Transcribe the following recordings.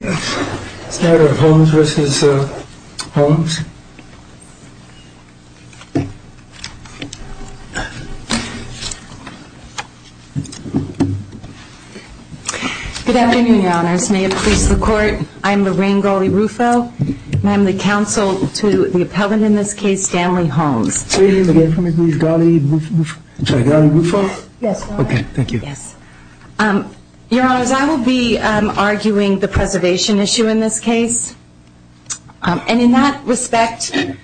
Good afternoon, Your Honors. May it please the Court, I'm Lorraine Gawley-Rufo, and I'm the counsel to the appellant in this case, Stanley Holmes. Your Honors, I will be arguing the preservation issue in this case, and in that respect, the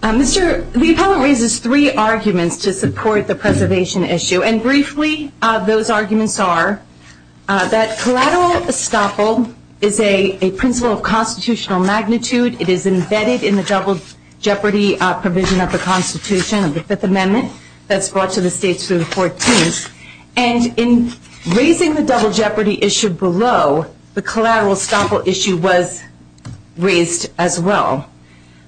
appellant raises three arguments to support the preservation issue, and briefly, those arguments are that collateral estoppel is a principle of constitutional magnitude. It is embedded in the double jeopardy provision of the Constitution of the Fifth Amendment that's brought to the states through the 14th, and in raising the double jeopardy issue below, the collateral estoppel issue was raised as well.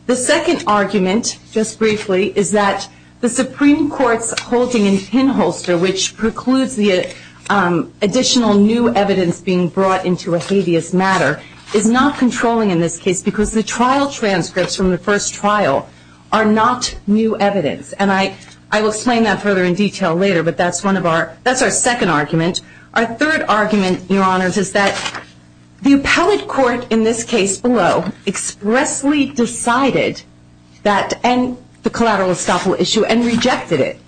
The second argument, just briefly, is that the Supreme Court's holding in pinholster, which precludes the additional new evidence being brought into a habeas matter, is not controlling in this case because the trial transcripts from the first trial are not new evidence, and I will explain that further in detail later, but that's our second argument. Our third argument, Your Honors, is that the appellate court in this case below expressly decided that the collateral estoppel issue and rejected it,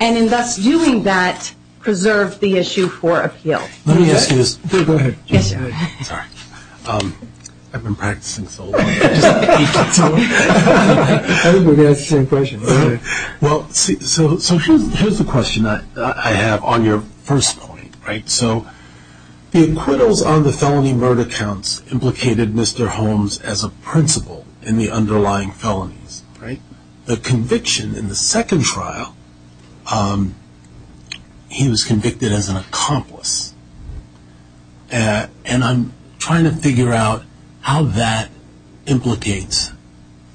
and in thus doing that, preserved the issue for appeal. Let me ask you this. Here's the question I have on your first point. The acquittals on the felony murder counts implicated Mr. Holmes as a principle in the underlying felonies. The conviction in the second trial, he was convicted as an accomplice, and I'm trying to figure out how that implicates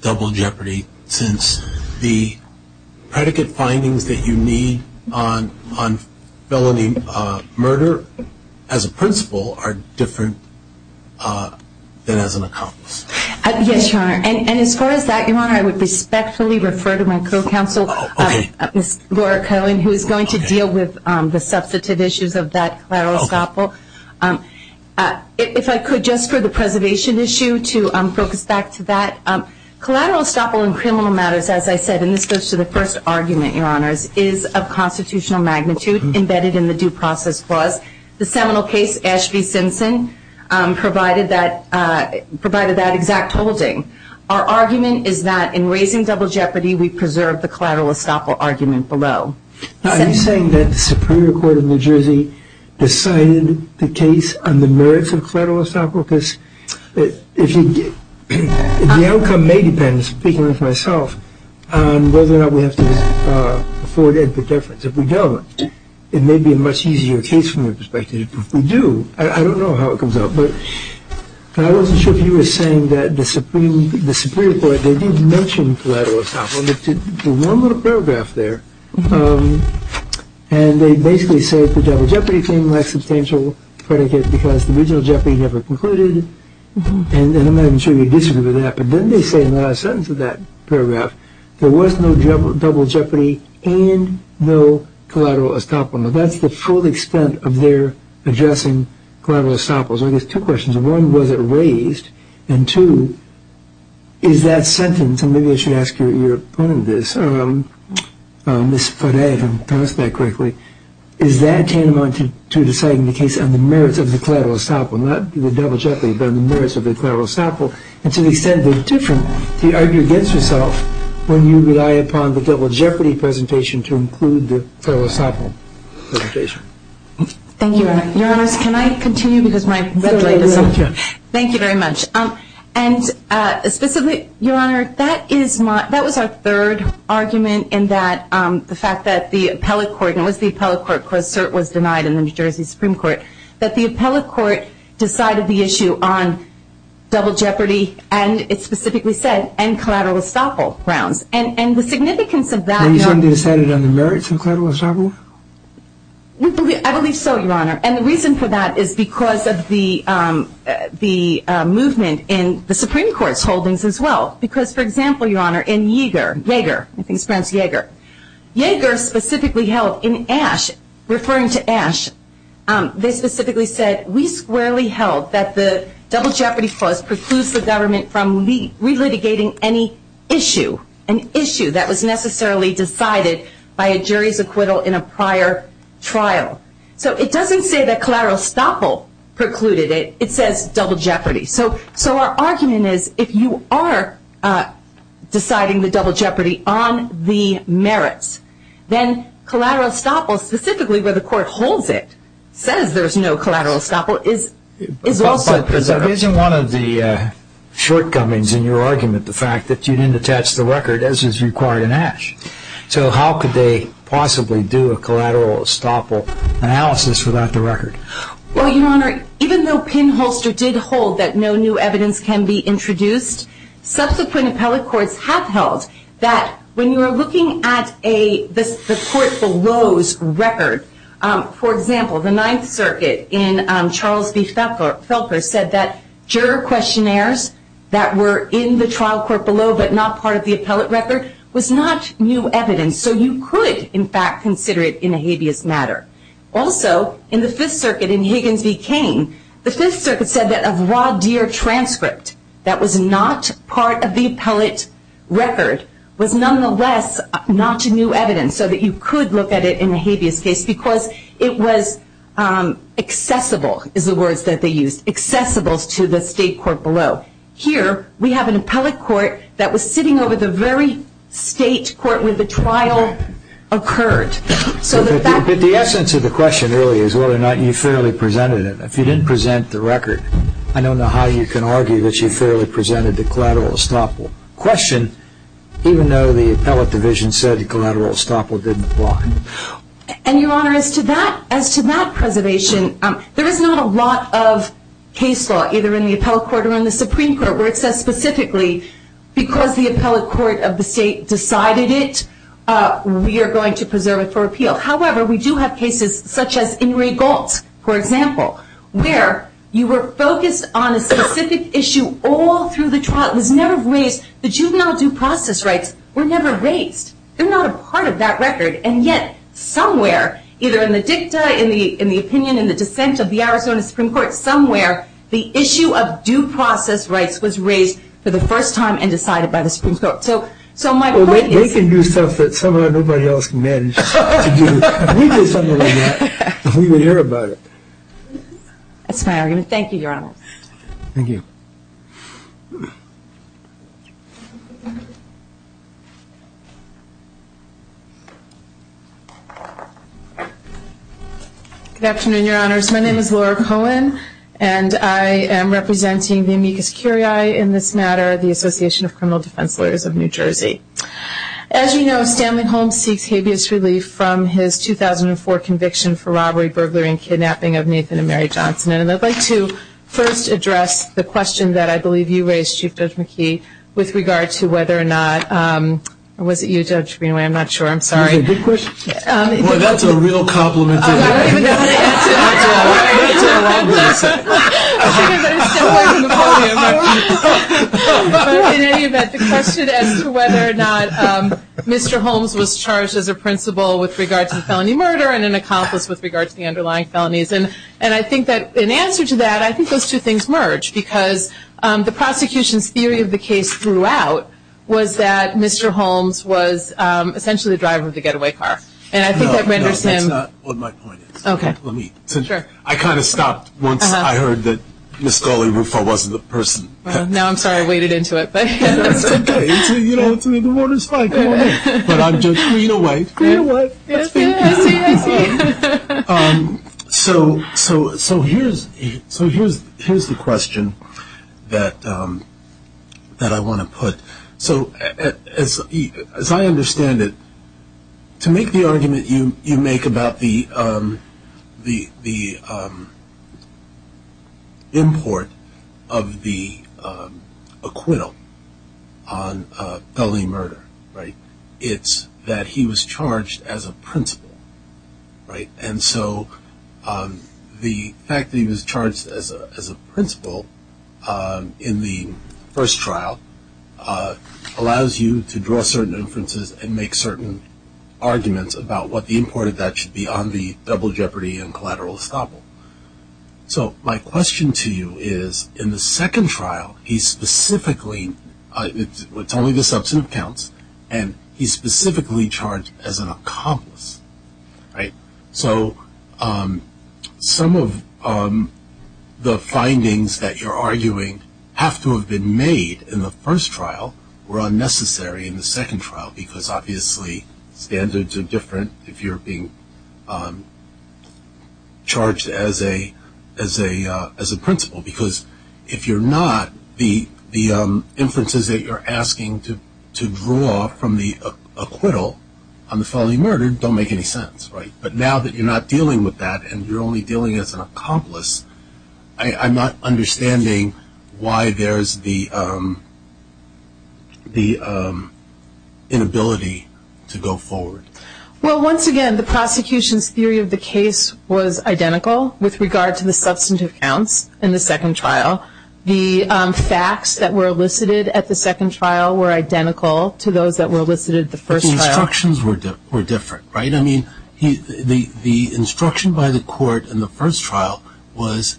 double jeopardy since the predicate findings that you need on felony murder as a principle are different than as an accomplice. Yes, Your Honor, and as far as that, Your Honor, I would respectfully refer to my co-counsel, Ms. Laura Cohen, who is going to deal with the substantive issues of that collateral estoppel. If I could, just for the preservation issue, to focus back to that, collateral estoppel in criminal matters, as I said, and this goes to the first argument, Your Honors, is of constitutional magnitude embedded in the Due Process Clause. The seminal case, Ashby-Simpson, provided that exact holding. Our argument is that in raising double jeopardy, we preserve the collateral estoppel argument below. Are you saying that the Supreme Court of New Jersey decided the case on the merits of collateral estoppel? The outcome may depend, speaking for myself, on whether or not we have to afford it for deference. If we don't, it may be a much easier case from your perspective. If we do, I don't know how it comes out, but I wasn't sure if you were saying that the Supreme Court, they did mention collateral estoppel. There's one little paragraph there, and they basically say the double jeopardy claim lacks substantial predicate because the original jeopardy never concluded, and I'm not even sure you'd disagree with that, but then they say in the last sentence of that paragraph, there was no double jeopardy and no collateral estoppel. Now, that's the full extent of their addressing collateral estoppels. I guess two questions. One, was it raised? And two, is that sentence, and maybe I should ask your opponent this, Ms. Frey, if I'm pronouncing that correctly, is that tantamount to deciding the case on the merits of the collateral estoppel, not the double jeopardy, but on the merits of the collateral estoppel, and to the extent they're different, do you argue against yourself when you rely upon the double jeopardy presentation to include the collateral estoppel presentation? Thank you, Your Honor. Your Honors, can I continue because my red light is on? Go ahead. Thank you very much. And specifically, Your Honor, that was our third argument in that the fact that the appellate court, and it was the appellate court because cert was denied in the New Jersey Supreme Court, that the appellate court decided the issue on double jeopardy, and it specifically said, and collateral estoppel grounds. And the significance of that… Are you saying they decided on the merits of collateral estoppel? I believe so, Your Honor. And the reason for that is because of the movement in the Supreme Court's holdings as well. Because, for example, Your Honor, in Yaeger, I think it's pronounced Yaeger, Yaeger specifically held in Ashe, referring to Ashe, they specifically said, we squarely held that the double jeopardy clause precludes the government from relitigating any issue, an issue that was necessarily decided by a jury's acquittal in a prior trial. So it doesn't say that collateral estoppel precluded it. It says double jeopardy. So our argument is, if you are deciding the double jeopardy on the merits, then collateral estoppel, specifically where the court holds it, says there's no collateral estoppel, is also… So isn't one of the shortcomings in your argument the fact that you didn't attach the record as is required in Ashe? So how could they possibly do a collateral estoppel analysis without the record? Well, Your Honor, even though Pinholster did hold that no new evidence can be introduced, subsequent appellate courts have held that when you are looking at the court below's record, for example, the Ninth Circuit in Charles v. Felker said that juror questionnaires that were in the trial court below but not part of the appellate record was not new evidence. So you could, in fact, consider it in a habeas matter. Also, in the Fifth Circuit in Higgins v. Cain, the Fifth Circuit said that a voir dire transcript that was not part of the appellate record was nonetheless not new evidence, so that you could look at it in a habeas case because it was accessible, is the word that they used, accessible to the state court below. Here, we have an appellate court that was sitting over the very state court where the trial occurred. But the essence of the question really is whether or not you fairly presented it. If you didn't present the record, I don't know how you can argue that you fairly presented the collateral estoppel question, even though the appellate division said the collateral estoppel didn't apply. And, Your Honor, as to that preservation, there is not a lot of case law, either in the appellate court or in the Supreme Court, where it says specifically because the appellate court of the state decided it, we are going to preserve it for appeal. However, we do have cases such as in Ray Galt's, for example, where you were focused on a specific issue all through the trial. The juvenile due process rights were never raised. They're not a part of that record. And yet, somewhere, either in the dicta, in the opinion, in the dissent of the Arizona Supreme Court, somewhere, the issue of due process rights was raised for the first time and decided by the Supreme Court. So my point is... Well, they can do stuff that someone or nobody else can manage to do. If we did something like that, we would hear about it. That's my argument. Thank you, Your Honor. Thank you. Good afternoon, Your Honors. My name is Laura Cohen, and I am representing the amicus curiae in this matter, the Association of Criminal Defense Lawyers of New Jersey. As you know, Stanley Holmes seeks habeas relief from his 2004 conviction for robbery, burglary, and kidnapping of Nathan and Mary Johnson. And I'd like to first address the question that I believe you raised, Chief Judge McKee, with regard to whether or not... Or was it you, Judge Greenway? I'm not sure. I'm sorry. Is it a good question? Well, that's a real compliment to me. I don't even know the answer to that. That's a wrong answer. I'm sorry, but I'm stepping away from the podium. But in any event, the question as to whether or not Mr. Holmes was charged as a principal with regard to the felony murder and an accomplice with regard to the underlying felonies. And I think that in answer to that, I think those two things merge, because the prosecution's theory of the case throughout was that Mr. Holmes was essentially the driver of the getaway car. And I think that renders him... No, no, that's not what my point is. Okay. I kind of stopped once I heard that Ms. Scully-Ruffo wasn't the person. Well, now I'm sorry I waded into it. It's okay. You know, the water's fine. Come on in. But I'm Judge Greenway. Greenway. I see, I see. So here's the question that I want to put. So as I understand it, to make the argument you make about the import of the acquittal on felony murder, right, it's that he was charged as a principal, right? And so the fact that he was charged as a principal in the first trial allows you to draw certain inferences and make certain arguments about what the import of that should be on the double jeopardy and collateral estoppel. So my question to you is, in the second trial, he specifically, it's only the substantive counts, and he's specifically charged as an accomplice, right? So some of the findings that you're arguing have to have been made in the first trial were unnecessary in the second trial because, obviously, standards are different. If you're being charged as a principal, because if you're not, the inferences that you're asking to draw from the acquittal on the felony murder don't make any sense, right? But now that you're not dealing with that and you're only dealing as an accomplice, I'm not understanding why there's the inability to go forward. Well, once again, the prosecution's theory of the case was identical with regard to the substantive counts in the second trial. The facts that were elicited at the second trial were identical to those that were elicited at the first trial. But the instructions were different, right? I mean, the instruction by the court in the first trial was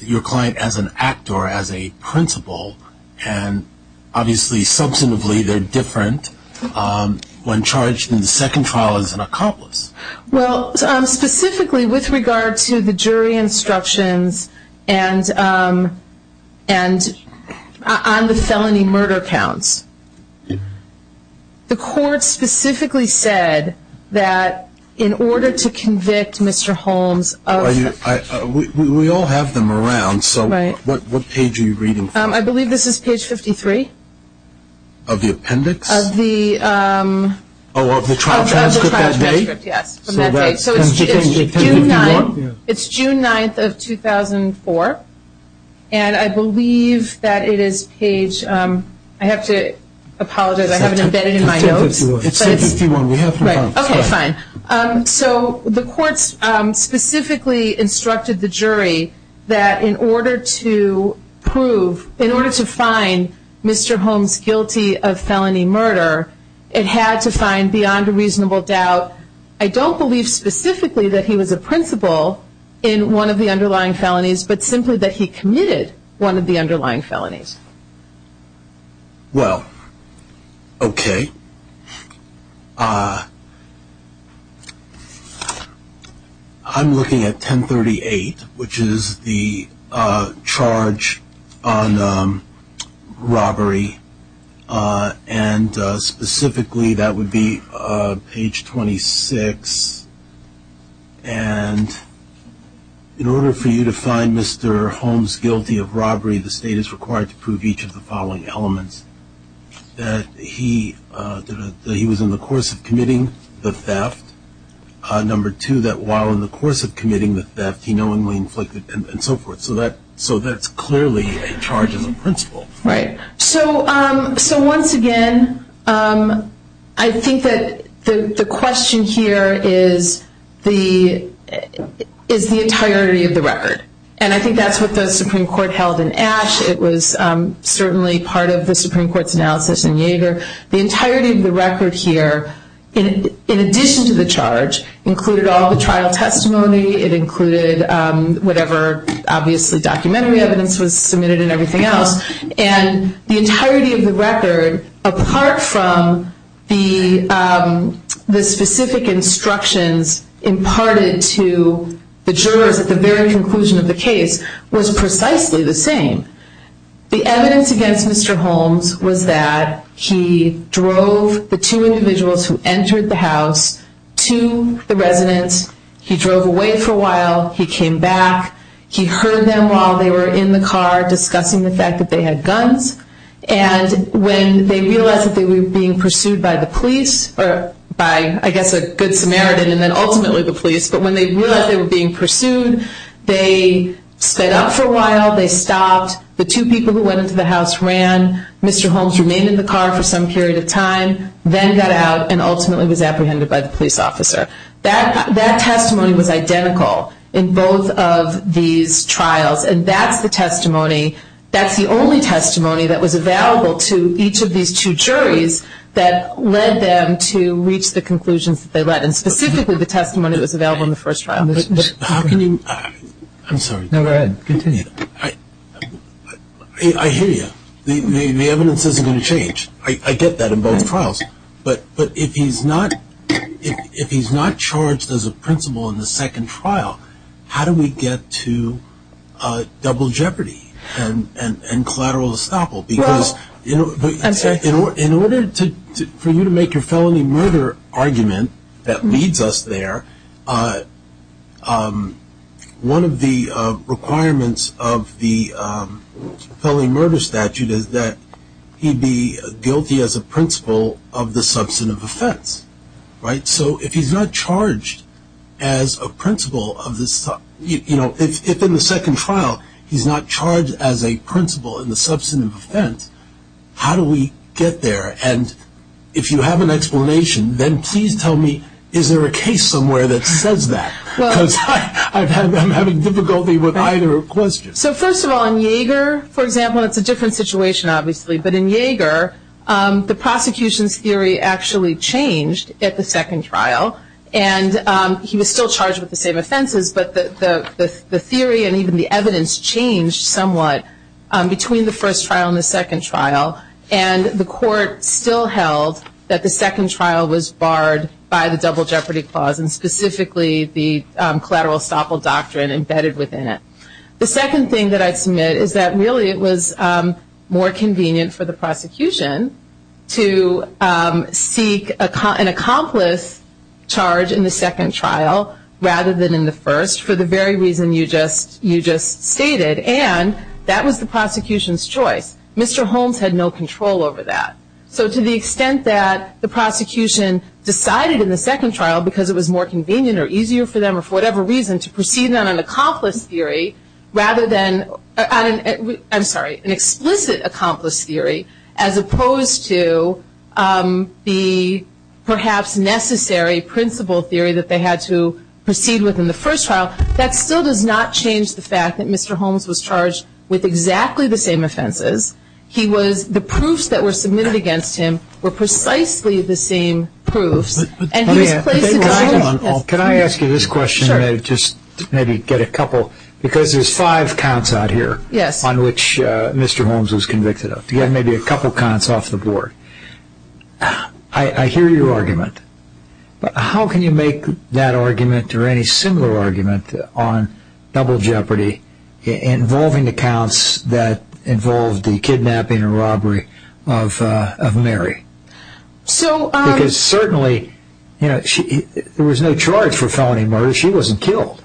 your client as an actor, as a principal, and obviously substantively they're different when charged in the second trial as an accomplice. Well, specifically with regard to the jury instructions on the felony murder counts, the court specifically said that in order to convict Mr. Holmes of- We all have them around, so what page are you reading from? I believe this is page 53. Of the appendix? Of the- Oh, of the trial transcript that day? Of the trial transcript, yes, from that day. So that's 1051? It's June 9th of 2004, and I believe that it is page- I have to apologize, I have it embedded in my notes. It's 1051. Okay, fine. So the courts specifically instructed the jury that in order to prove, in order to find Mr. Holmes guilty of felony murder, it had to find beyond a reasonable doubt, I don't believe specifically that he was a principal in one of the underlying felonies, but simply that he committed one of the underlying felonies. Well, okay. I'm looking at 1038, which is the charge on robbery, and specifically that would be page 26. And in order for you to find Mr. Holmes guilty of robbery, the state is required to prove each of the following elements, that he was in the course of committing the theft, number two, that while in the course of committing the theft, he knowingly inflicted, and so forth. So that's clearly a charge as a principal. Right. So once again, I think that the question here is the entirety of the record. And I think that's what the Supreme Court held in Ashe. It was certainly part of the Supreme Court's analysis in Yeager. The entirety of the record here, in addition to the charge, included all the trial testimony. It included whatever, obviously, documentary evidence was submitted and everything else. And the entirety of the record, apart from the specific instructions imparted to the jurors at the very conclusion of the case, was precisely the same. The evidence against Mr. Holmes was that he drove the two individuals who entered the house to the residence. He drove away for a while. He came back. He heard them while they were in the car discussing the fact that they had guns. And when they realized that they were being pursued by the police, or by I guess a good Samaritan and then ultimately the police, but when they realized they were being pursued, they sped up for a while. They stopped. The two people who went into the house ran. Mr. Holmes remained in the car for some period of time, then got out and ultimately was apprehended by the police officer. That testimony was identical in both of these trials. And that's the testimony, that's the only testimony that was available to each of these two juries that led them to reach the conclusions that they led, and specifically the testimony that was available in the first trial. I'm sorry. No, go ahead. Continue. I hear you. The evidence isn't going to change. I get that in both trials. But if he's not charged as a principal in the second trial, how do we get to double jeopardy and collateral estoppel? Because in order for you to make your felony murder argument that leads us there, one of the requirements of the felony murder statute is that he be guilty as a principal of the substantive offense. Right? So if he's not charged as a principal of this, you know, if in the second trial, he's not charged as a principal in the substantive offense, how do we get there? And if you have an explanation, then please tell me, is there a case somewhere that says that? Because I'm having difficulty with either question. So first of all, in Yeager, for example, and it's a different situation obviously, but in Yeager, the prosecution's theory actually changed at the second trial. And he was still charged with the same offenses, but the theory and even the evidence changed somewhat between the first trial and the second trial. And the court still held that the second trial was barred by the double jeopardy clause and specifically the collateral estoppel doctrine embedded within it. The second thing that I'd submit is that really it was more convenient for the prosecution to seek an accomplice charge in the second trial rather than in the first for the very reason you just stated. And that was the prosecution's choice. Mr. Holmes had no control over that. So to the extent that the prosecution decided in the second trial, because it was more convenient or easier for them or for whatever reason, to proceed on an accomplice theory rather than, I'm sorry, an explicit accomplice theory, as opposed to the perhaps necessary principal theory that they had to proceed with in the first trial, that still does not change the fact that Mr. Holmes was charged with exactly the same offenses. The proofs that were submitted against him were precisely the same proofs. Can I ask you this question and just maybe get a couple, because there's five counts out here on which Mr. Holmes was convicted of, to get maybe a couple counts off the board. I hear your argument, but how can you make that argument or any similar argument on double jeopardy involving the counts that involved the kidnapping and robbery of Mary? Because certainly there was no charge for felony murder. She wasn't killed.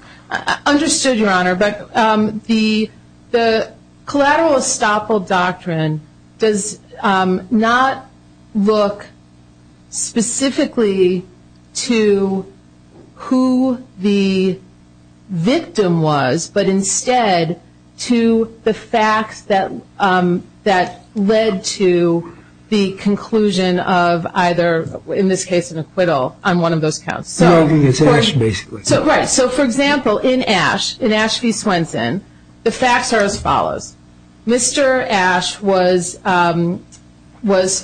Understood, Your Honor. But the collateral estoppel doctrine does not look specifically to who the victim was, but instead to the facts that led to the conclusion of either, in this case, an acquittal on one of those counts. The felony is Ash, basically. Right. So, for example, in Ash v. Swenson, the facts are as follows. Mr. Ash was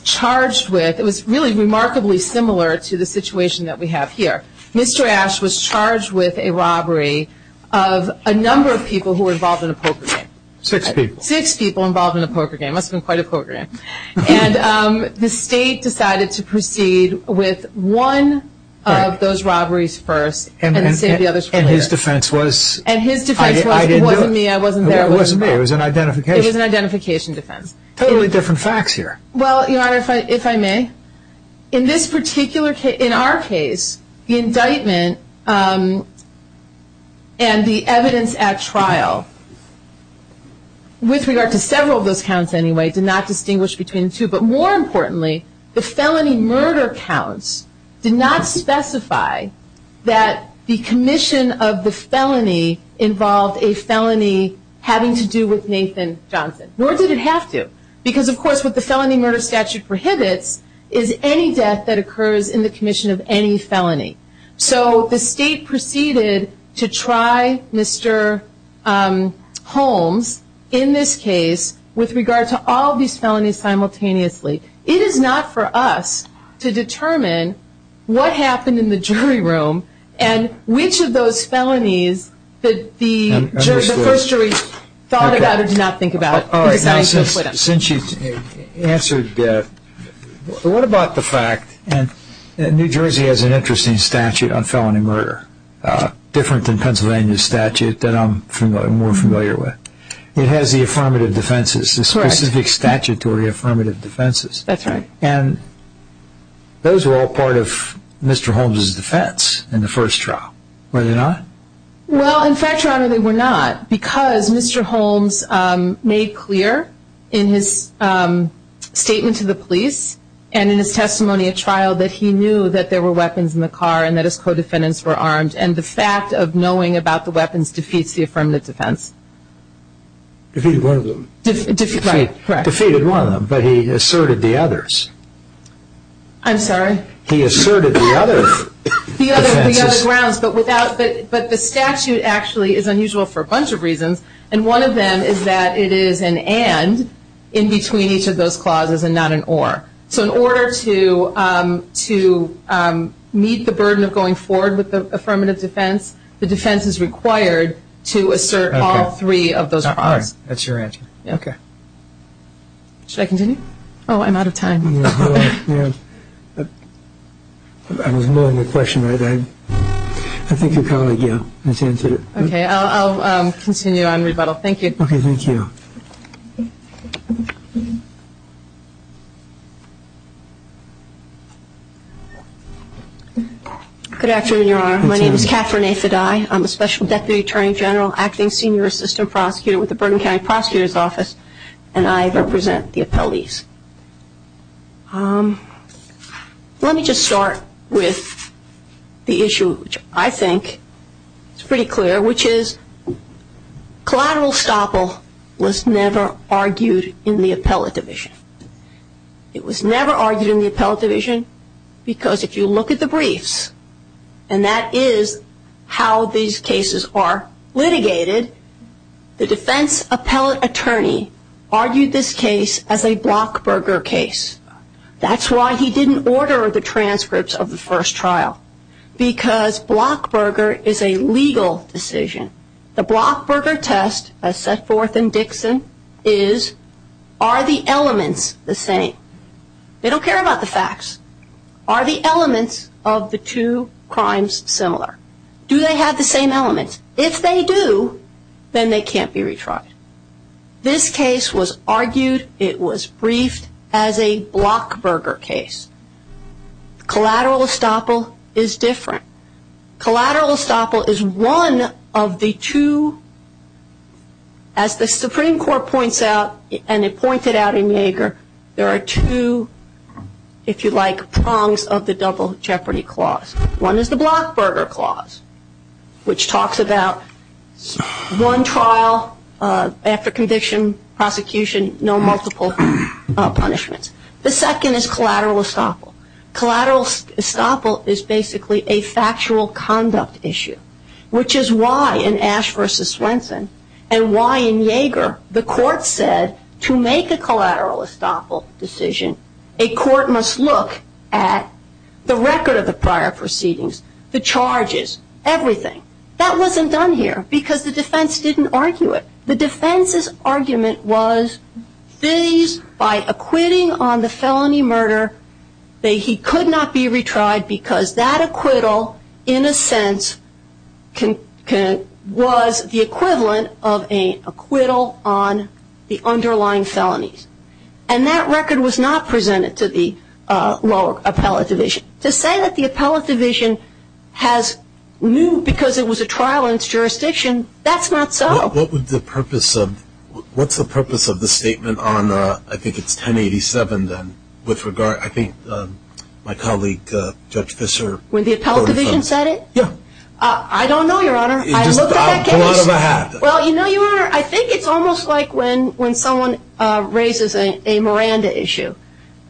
charged with, it was really remarkably similar to the situation that we have here. Mr. Ash was charged with a robbery of a number of people who were involved in a poker game. Six people. Six people involved in a poker game. It must have been quite a poker game. And the state decided to proceed with one of those robberies first and save the others for later. And his defense was, I didn't do it. And his defense was, it wasn't me, I wasn't there, it wasn't me. It wasn't me, it was an identification. It was an identification defense. Totally different facts here. Well, Your Honor, if I may, in our case, the indictment and the evidence at trial, with regard to several of those counts anyway, did not distinguish between the two. But more importantly, the felony murder counts did not specify that the commission of the felony involved a felony having to do with Nathan Johnson. Nor did it have to. Because, of course, what the felony murder statute prohibits is any death that occurs in the commission of any felony. So the state proceeded to try Mr. Holmes in this case with regard to all these felonies simultaneously. It is not for us to determine what happened in the jury room and which of those felonies that the first jury thought about or did not think about. Since you've answered that, what about the fact that New Jersey has an interesting statute on felony murder, different than Pennsylvania's statute that I'm more familiar with. It has the affirmative defenses, the specific statutory affirmative defenses. That's right. And those were all part of Mr. Holmes' defense in the first trial, were they not? Well, in fact, Your Honor, they were not. Because Mr. Holmes made clear in his statement to the police and in his testimony at trial that he knew that there were weapons in the car and that his co-defendants were armed. And the fact of knowing about the weapons defeats the affirmative defense. Defeated one of them. Right, correct. Defeated one of them, but he asserted the others. I'm sorry? He asserted the other defenses. The other grounds, but the statute actually is unusual for a bunch of reasons, and one of them is that it is an and in between each of those clauses and not an or. So in order to meet the burden of going forward with the affirmative defense, the defense is required to assert all three of those clauses. That's your answer. Okay. Should I continue? Oh, I'm out of time. I was mulling the question. I think your colleague, yeah, has answered it. Okay. I'll continue on rebuttal. Thank you. Okay. Thank you. Good afternoon, Your Honor. My name is Catherine A. Fedai. I'm a special deputy attorney general acting senior assistant prosecutor with the Bergen County Prosecutor's Office, and I represent the appellees. Let me just start with the issue which I think is pretty clear, which is collateral estoppel was never argued in the appellate division. It was never argued in the appellate division because if you look at the briefs, and that is how these cases are litigated, the defense appellate attorney argued this case as a Blockberger case. That's why he didn't order the transcripts of the first trial, because Blockberger is a legal decision. The Blockberger test, as set forth in Dixon, is are the elements the same? They don't care about the facts. Are the elements of the two crimes similar? Do they have the same elements? If they do, then they can't be retried. This case was argued, it was briefed as a Blockberger case. Collateral estoppel is different. Collateral estoppel is one of the two, as the Supreme Court points out, and it pointed out in Yeager, there are two, if you like, prongs of the double jeopardy clause. One is the Blockberger clause, which talks about one trial after conviction, prosecution, no multiple punishments. The second is collateral estoppel. Collateral estoppel is basically a factual conduct issue, which is why in Ash v. Swenson, and why in Yeager, the court said to make a collateral estoppel decision, a court must look at the record of the prior proceedings, the charges, everything. That wasn't done here, because the defense didn't argue it. The defense's argument was, by acquitting on the felony murder, that he could not be retried because that acquittal, in a sense, was the equivalent of an acquittal on the underlying felonies. And that record was not presented to the lower appellate division. To say that the appellate division has moved because it was a trial in its jurisdiction, that's not so. What's the purpose of the statement on, I think it's 1087, then, with regard, I think my colleague, Judge Fischer. When the appellate division said it? I don't know, Your Honor. I looked at that case. Pull out of a hat. Well, you know, Your Honor, I think it's almost like when someone raises a Miranda issue,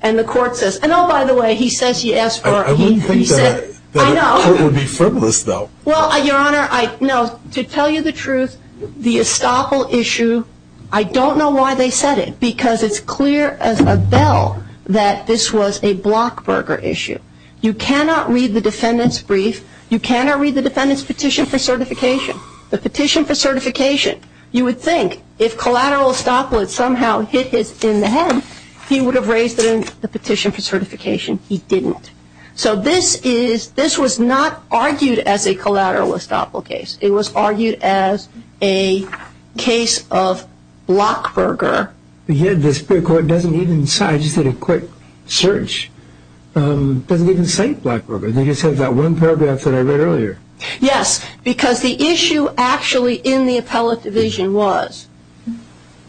and the court says, and oh, by the way, he says he asked for. I wouldn't think that a court would be frivolous, though. Well, Your Honor, no, to tell you the truth, the Estoppel issue, I don't know why they said it, because it's clear as a bell that this was a Blockburger issue. You cannot read the defendant's brief. You cannot read the defendant's petition for certification. The petition for certification, you would think if collateral Estoppel had somehow hit his in the head, he would have raised it in the petition for certification. He didn't. So this is, this was not argued as a collateral Estoppel case. It was argued as a case of Blockburger. But yet this court doesn't even cite, just did a quick search, doesn't even cite Blockburger. They just have that one paragraph that I read earlier. Yes, because the issue actually in the appellate division was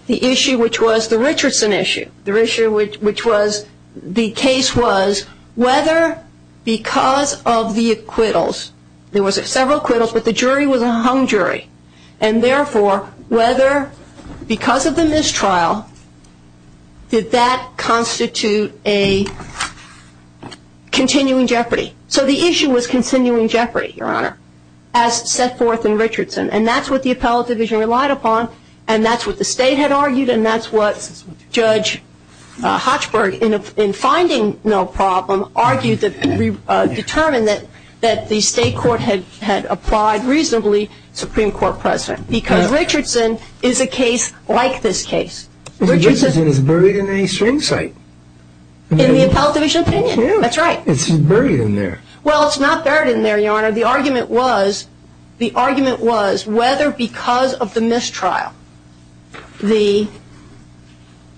the issue which was the Richardson issue, which was the case was whether because of the acquittals, there was several acquittals, but the jury was a hung jury, and therefore whether because of the mistrial, did that constitute a continuing jeopardy. So the issue was continuing jeopardy, Your Honor, as set forth in Richardson, and that's what the appellate division relied upon, and that's what the state had argued, and that's what Judge Hochberg, in finding no problem, argued that, determined that the state court had applied reasonably Supreme Court precedent, because Richardson is a case like this case. Richardson is buried in a string site. In the appellate division opinion. That's right. It's buried in there. Well, it's not buried in there, Your Honor. The argument was whether because of the mistrial,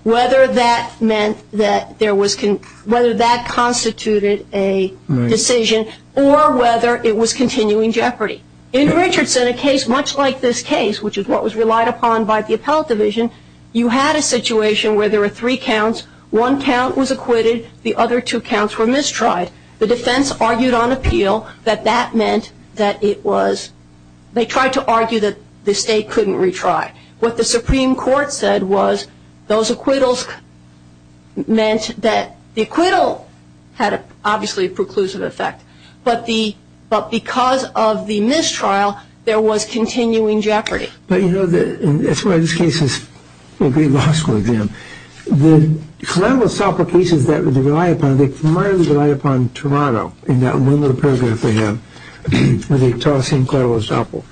whether that meant that there was, whether that constituted a decision, or whether it was continuing jeopardy. In Richardson, a case much like this case, which is what was relied upon by the appellate division, you had a situation where there were three counts. One count was acquitted. The other two counts were mistried. The defense argued on appeal that that meant that it was, they tried to argue that the state couldn't retry. What the Supreme Court said was those acquittals meant that the acquittal had obviously a preclusive effect, but because of the mistrial, there was continuing jeopardy. But, you know, that's why this case is a great law school exam. The Clarello Soppo cases that they rely upon, they primarily rely upon Toronto in that one little paragraph they have, where they toss in Clarello Soppo.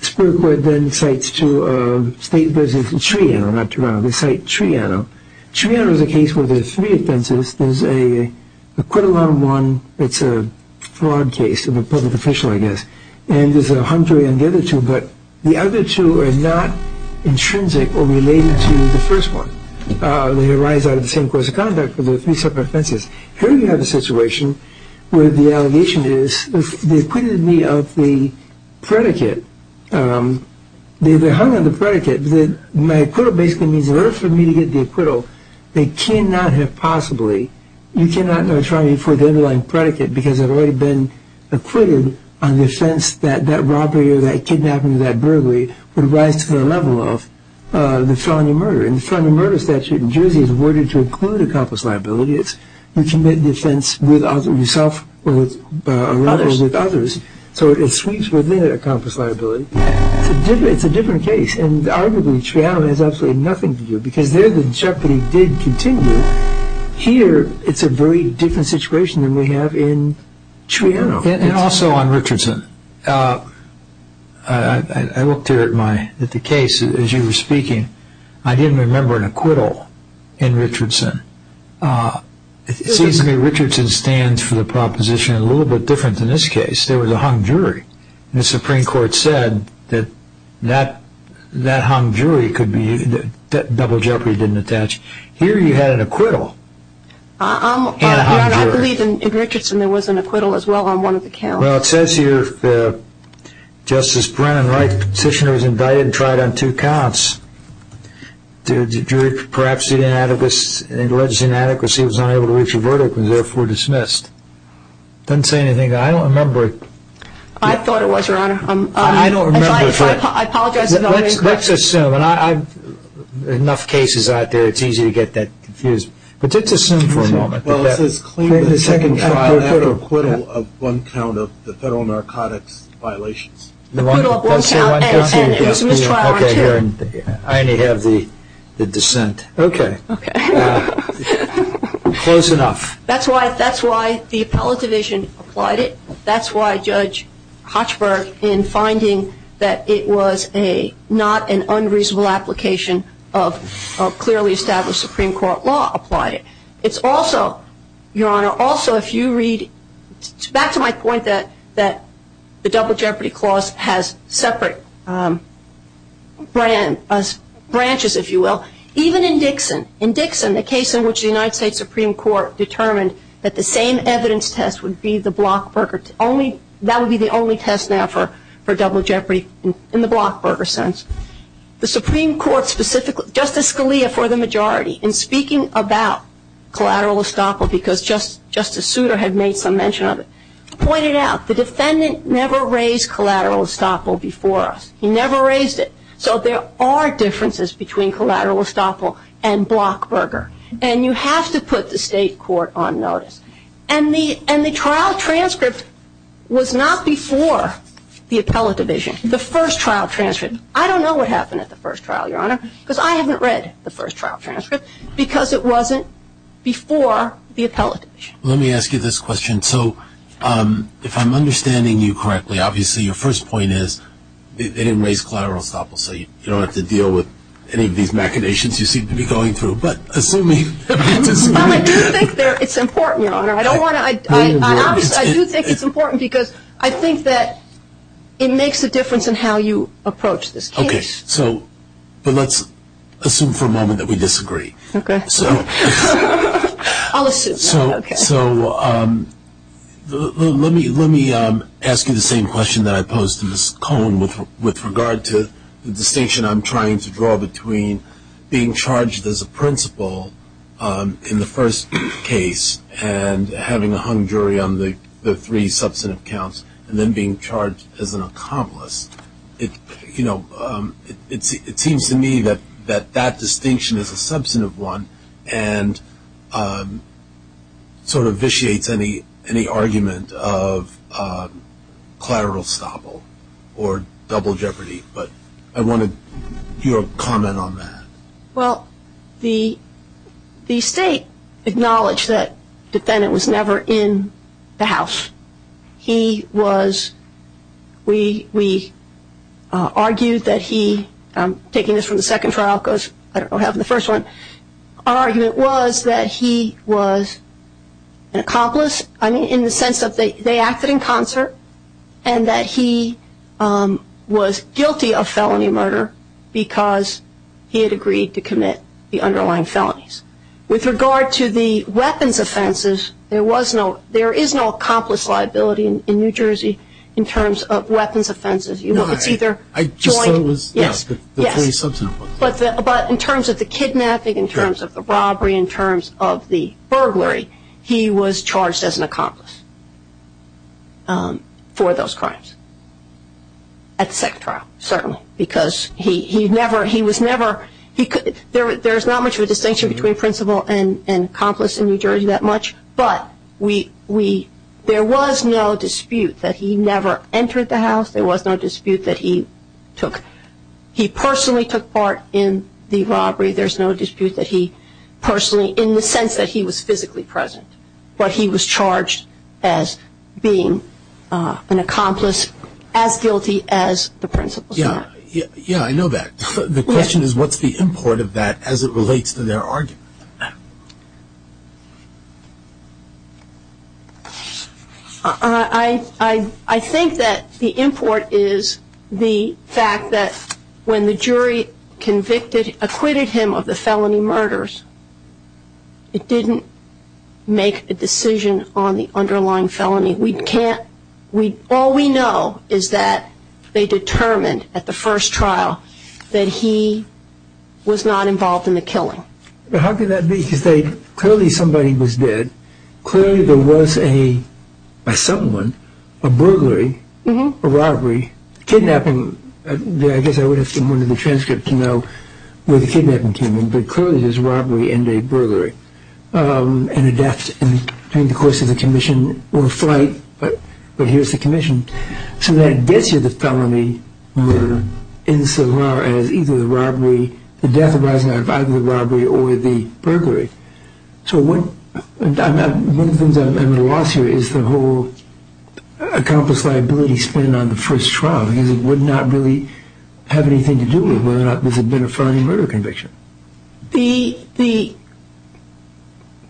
The Supreme Court then cites two states. There's Triano, not Toronto. They cite Triano. Triano is a case where there's three offenses. There's an acquittal on one. It's a fraud case of a public official, I guess. And there's a hung jury on the other two. But the other two are not intrinsic or related to the first one. They arise out of the same course of conduct, but they're three separate offenses. Here you have a situation where the allegation is they acquitted me of the predicate. They hung on the predicate. My acquittal basically means in order for me to get the acquittal, they cannot have possibly. You cannot go to Triano for the underlying predicate because I've already been acquitted on the offense that that robbery or that kidnapping or that burglary would rise to the level of the felony murder. In the felony murder statute in Jersey, it's worded to include accomplice liability. You commit the offense with yourself or with others. So it sweeps within accomplice liability. It's a different case. And arguably, Triano has absolutely nothing to do because there the jeopardy did continue. Here, it's a very different situation than we have in Triano. And also on Richardson. I looked here at the case as you were speaking. I didn't remember an acquittal in Richardson. It seems to me Richardson stands for the proposition a little bit different than this case. There was a hung jury. The Supreme Court said that that hung jury could be double jeopardy didn't attach. Here you had an acquittal and a hung jury. Your Honor, I believe in Richardson there was an acquittal as well on one of the counts. Well, it says here that Justice Brennan Wright's petitioner was invited and tried on two counts. The jury perhaps alleged inadequacy and was unable to reach a verdict and was therefore dismissed. It doesn't say anything. I don't remember. I thought it was, Your Honor. I don't remember. I apologize if I'm incorrect. Let's assume. Enough cases out there. It's easy to get that confused. But let's assume for a moment. Well, it says claim the second trial after acquittal of one count of the federal narcotics violations. Acquittal of one count and a dismissed trial on two. I only have the dissent. Okay. Okay. Close enough. That's why the appellate division applied it. That's why Judge Hochberg, in finding that it was not an unreasonable application of clearly established Supreme Court law, applied it. It's also, Your Honor, also if you read back to my point that the Double Jeopardy Clause has separate branches, if you will. Even in Dixon. In Dixon, the case in which the United States Supreme Court determined that the same evidence test would be the Blockburger. That would be the only test now for Double Jeopardy in the Blockburger sense. The Supreme Court specifically, Justice Scalia for the majority, in speaking about collateral estoppel because Justice Souter had made some mention of it, pointed out the defendant never raised collateral estoppel before us. He never raised it. So there are differences between collateral estoppel and Blockburger. And you have to put the state court on notice. And the trial transcript was not before the appellate division. The first trial transcript. I don't know what happened at the first trial, Your Honor, because I haven't read the first trial transcript because it wasn't before the appellate division. Let me ask you this question. And so if I'm understanding you correctly, obviously your first point is they didn't raise collateral estoppel, so you don't have to deal with any of these machinations you seem to be going through. But assuming that's his point. Well, I do think it's important, Your Honor. I do think it's important because I think that it makes a difference in how you approach this case. Okay. But let's assume for a moment that we disagree. Okay. I'll assume that. So let me ask you the same question that I posed to Ms. Cohn with regard to the distinction I'm trying to draw between being charged as a principal in the first case and having a hung jury on the three substantive counts and then being charged as an accomplice. You know, it seems to me that that distinction is a substantive one and sort of vitiates any argument of collateral estoppel or double jeopardy. But I wanted your comment on that. Well, the State acknowledged that the defendant was never in the house. He was, we argued that he, taking this from the second trial because I don't know what happened in the first one, our argument was that he was an accomplice in the sense that they acted in concert and that he was guilty of felony murder because he had agreed to commit the underlying felonies. With regard to the weapons offenses, there is no accomplice liability in New Jersey in terms of weapons offenses. You know, it's either joint. I just thought it was the three substantive ones. Yes. But in terms of the kidnapping, in terms of the robbery, in terms of the burglary, he was charged as an accomplice for those crimes at the second trial, certainly. Because he never, he was never, there's not much of a distinction between principal and accomplice in New Jersey that much. But we, there was no dispute that he never entered the house. There was no dispute that he took, he personally took part in the robbery. There's no dispute that he personally, in the sense that he was physically present. But he was charged as being an accomplice as guilty as the principal. Yeah. Yeah, I know that. The question is what's the import of that as it relates to their argument? I think that the import is the fact that when the jury convicted, acquitted him of the felony murders, it didn't make a decision on the underlying felony. We can't, all we know is that they determined at the first trial that he was not involved in the killing. But how could that be? Because they, clearly somebody was dead. Clearly there was a, a someone, a burglary, a robbery, kidnapping. I guess I would have to look at the transcript to know where the kidnapping came in. But clearly there's robbery and a burglary. And a death during the course of the commission or flight. But here's the commission. So that gets you the felony murder insofar as either the robbery, the death arising out of either the robbery or the burglary. So what, one of the things I'm at a loss here is the whole accomplice liability spending on the first trial because it would not really have anything to do with whether or not this had been a felony murder conviction. The, the,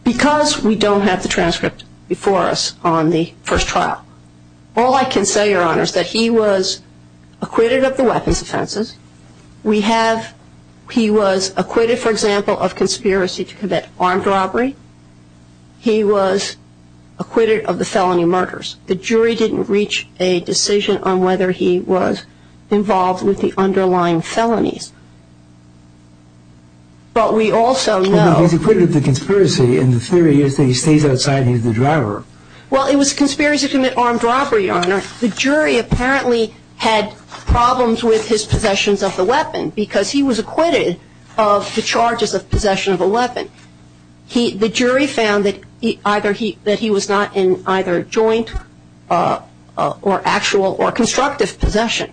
because we don't have the transcript before us on the first trial, all I can say, Your Honor, is that he was acquitted of the weapons offenses. We have, he was acquitted, for example, of conspiracy to commit armed robbery. He was acquitted of the felony murders. The jury didn't reach a decision on whether he was involved with the underlying felonies. But we also know. He was acquitted of the conspiracy and the theory is that he stays outside and he's the driver. Well, it was conspiracy to commit armed robbery, Your Honor. The jury apparently had problems with his possessions of the weapon because he was acquitted of the charges of possession of a weapon. He, the jury found that either he, that he was not in either joint or actual or constructive possession.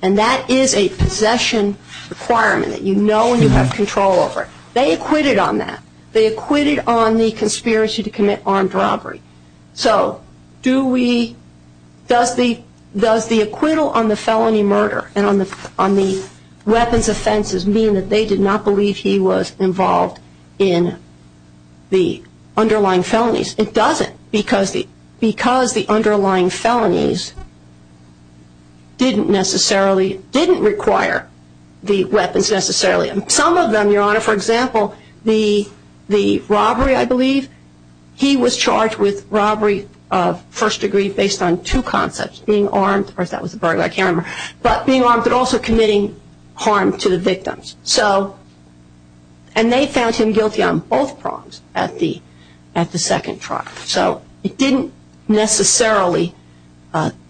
And that is a possession requirement that you know and you have control over. They acquitted on that. They acquitted on the conspiracy to commit armed robbery. So do we, does the, does the acquittal on the felony murder and on the, on the weapons offenses mean that they did not believe he was involved in the underlying felonies? It doesn't because the, because the underlying felonies didn't necessarily, didn't require the weapons necessarily. Some of them, Your Honor, for example, the, the robbery I believe, he was charged with robbery of first degree based on two concepts. First being armed, of course that was the burglar I can't remember, but being armed but also committing harm to the victims. So, and they found him guilty on both prongs at the, at the second trial. So it didn't necessarily,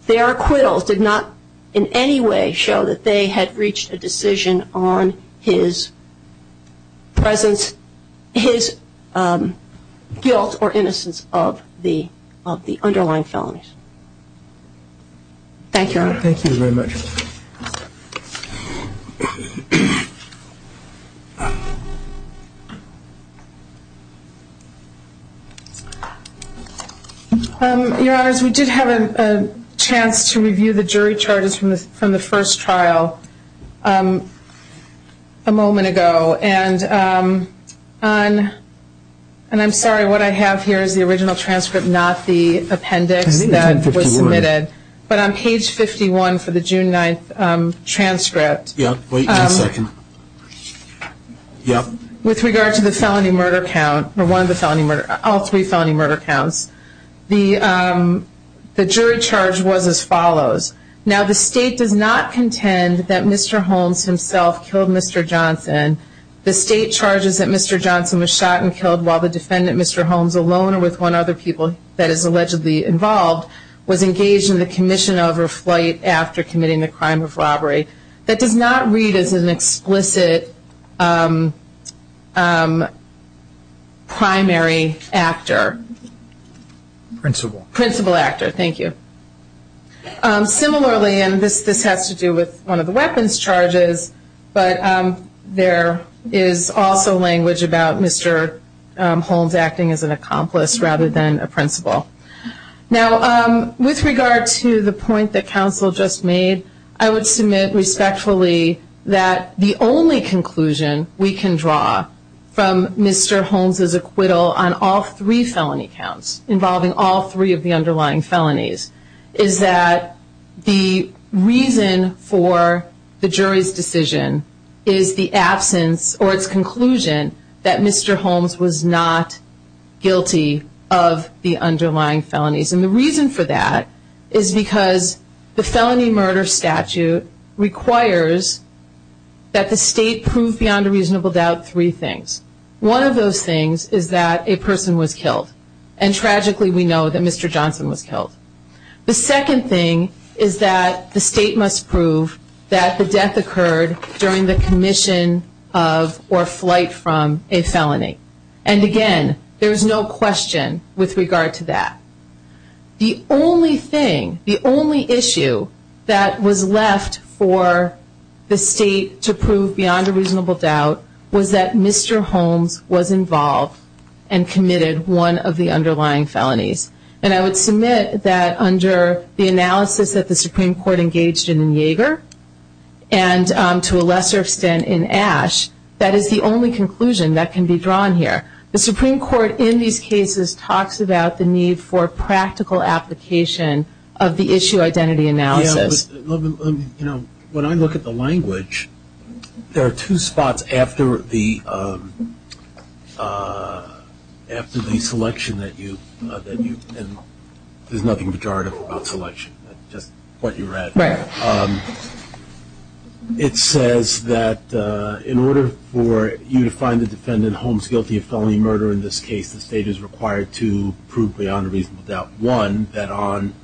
their acquittals did not in any way show that they had reached a decision on his presence, his guilt or innocence of the, of the underlying felonies. Thank you, Your Honor. Thank you very much. Your Honors, we did have a chance to review the jury charges from the first trial a moment ago. And on, and I'm sorry, what I have here is the original transcript, not the appendix that was submitted. But on page 51 for the June 9th transcript. Yeah, wait one second. Yeah. With regard to the felony murder count, or one of the felony murder, all three felony murder counts, the, the jury charge was as follows. Now the state does not contend that Mr. Holmes himself killed Mr. Johnson. The state charges that Mr. Johnson was shot and killed while the defendant, Mr. Holmes, alone or with one other people that is allegedly involved, was engaged in the commission of or flight after committing the crime of robbery. That does not read as an explicit primary actor. Principal. Principal actor. Thank you. Similarly, and this, this has to do with one of the weapons charges, but there is also language about Mr. Holmes acting as an accomplice rather than a principal. Now with regard to the point that counsel just made, I would submit respectfully that the only conclusion we can draw from Mr. Holmes' acquittal on all three felony counts, involving all three of the underlying felonies, is that the reason for the jury's decision is the absence or its conclusion that Mr. Holmes was not guilty of the underlying felonies. And the reason for that is because the felony murder statute requires that the state prove beyond a reasonable doubt three things. One of those things is that a person was killed. And tragically we know that Mr. Johnson was killed. The second thing is that the state must prove that the death occurred during the commission of or flight from a felony. And again, there is no question with regard to that. The only thing, the only issue that was left for the state to prove beyond a reasonable doubt was that Mr. Holmes was involved and committed one of the underlying felonies. And I would submit that under the analysis that the Supreme Court engaged in in Yeager and to a lesser extent in Ashe, that is the only conclusion that can be drawn here. The Supreme Court in these cases talks about the need for practical application of the issue identity analysis. When I look at the language, there are two spots after the selection that you, and there's nothing pejorative about selection, just what you read. Right. It says that in order for you to find the defendant Holmes guilty of felony murder in this case, the state is required to prove beyond a reasonable doubt, one, that on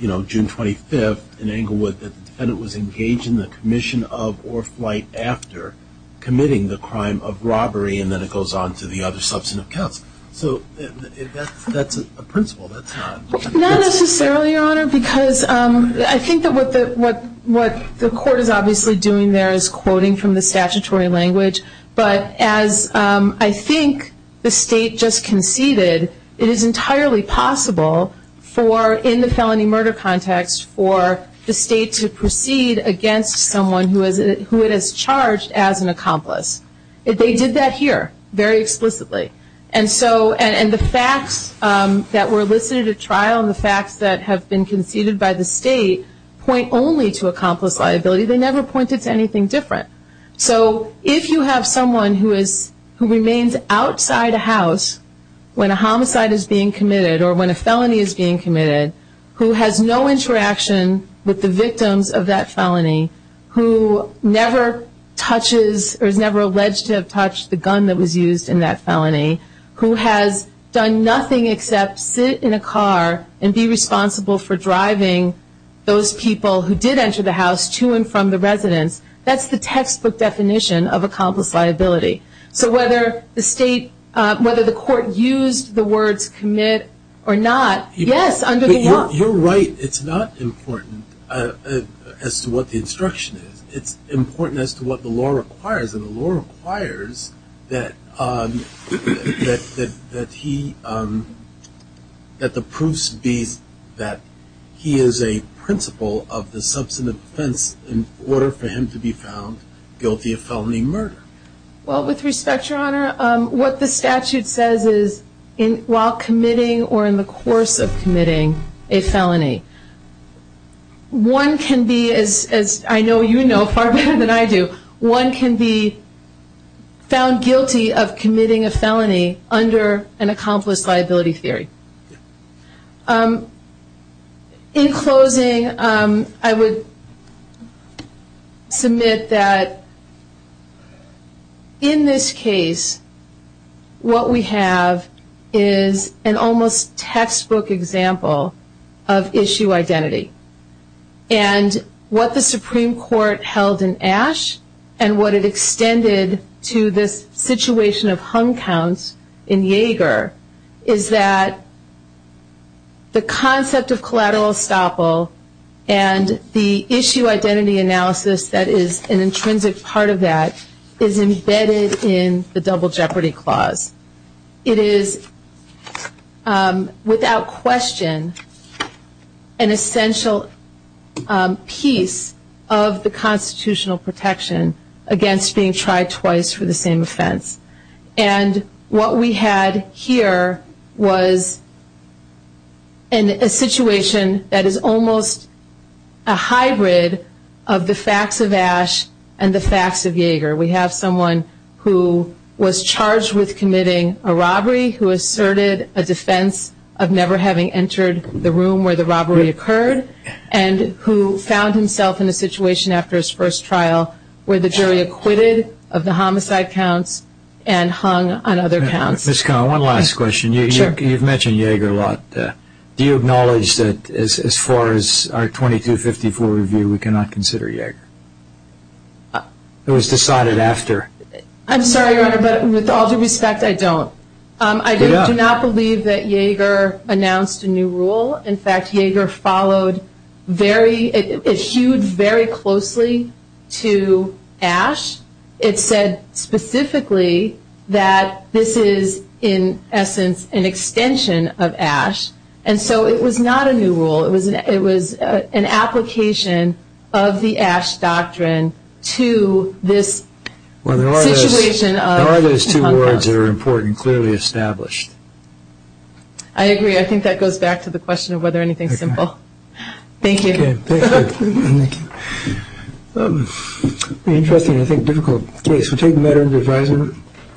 June 25th in Englewood that the defendant was engaged in the commission of or flight after committing the crime of robbery, and then it goes on to the other substantive counts. So that's a principle. Not necessarily, Your Honor, because I think that what the court is obviously doing there is quoting from the statutory language. But as I think the state just conceded, it is entirely possible for, in the felony murder context, for the state to proceed against someone who it has charged as an accomplice. They did that here very explicitly. And so, and the facts that were listed at trial and the facts that have been conceded by the state point only to accomplice liability. They never pointed to anything different. So if you have someone who remains outside a house when a homicide is being committed or when a felony is being committed, who has no interaction with the victims of that felony, who never touches or is never alleged to have touched the gun that was used in that felony, who has done nothing except sit in a car and be responsible for driving those people who did enter the house to and from the residence, that's the textbook definition of accomplice liability. So whether the state, whether the court used the words commit or not, yes, under the law. You're right. It's not important as to what the instruction is. It's important as to what the law requires. And the law requires that he, that the proofs be that he is a principal of the substantive offense in order for him to be found guilty of felony murder. Well, with respect, Your Honor, what the statute says is while committing or in the course of committing a felony, one can be, as I know you know far better than I do, one can be found guilty of committing a felony under an accomplice liability theory. In closing, I would submit that in this case what we have is an almost textbook example of issue identity. And what the Supreme Court held in Ashe and what it extended to this situation of hung counts in Yager is that the concept of collateral estoppel and the issue identity analysis that is an intrinsic part of that is embedded in the double jeopardy clause. It is without question an essential piece of the constitutional protection against being tried twice for the same offense. And what we had here was a situation that is almost a hybrid of the facts of Ashe and the facts of Yager. We have someone who was charged with committing a robbery, who asserted a defense of never having entered the room where the robbery occurred, and who found himself in a situation after his first trial where the jury acquitted of the homicide counts and hung on other counts. Ms. Connell, one last question. Sure. You've mentioned Yager a lot. Do you acknowledge that as far as our 2254 review we cannot consider Yager? It was decided after. I'm sorry, Your Honor, but with all due respect, I don't. I do not believe that Yager announced a new rule. In fact, Yager followed very, it hewed very closely to Ashe. It said specifically that this is in essence an extension of Ashe. And so it was not a new rule. It was an application of the Ashe doctrine to this situation of hung counts. Well, there are those two words that are important, clearly established. I agree. I think that goes back to the question of whether anything is simple. Thank you. Okay. Thank you. Interesting, I think, difficult case. We'll take the matter into advisement.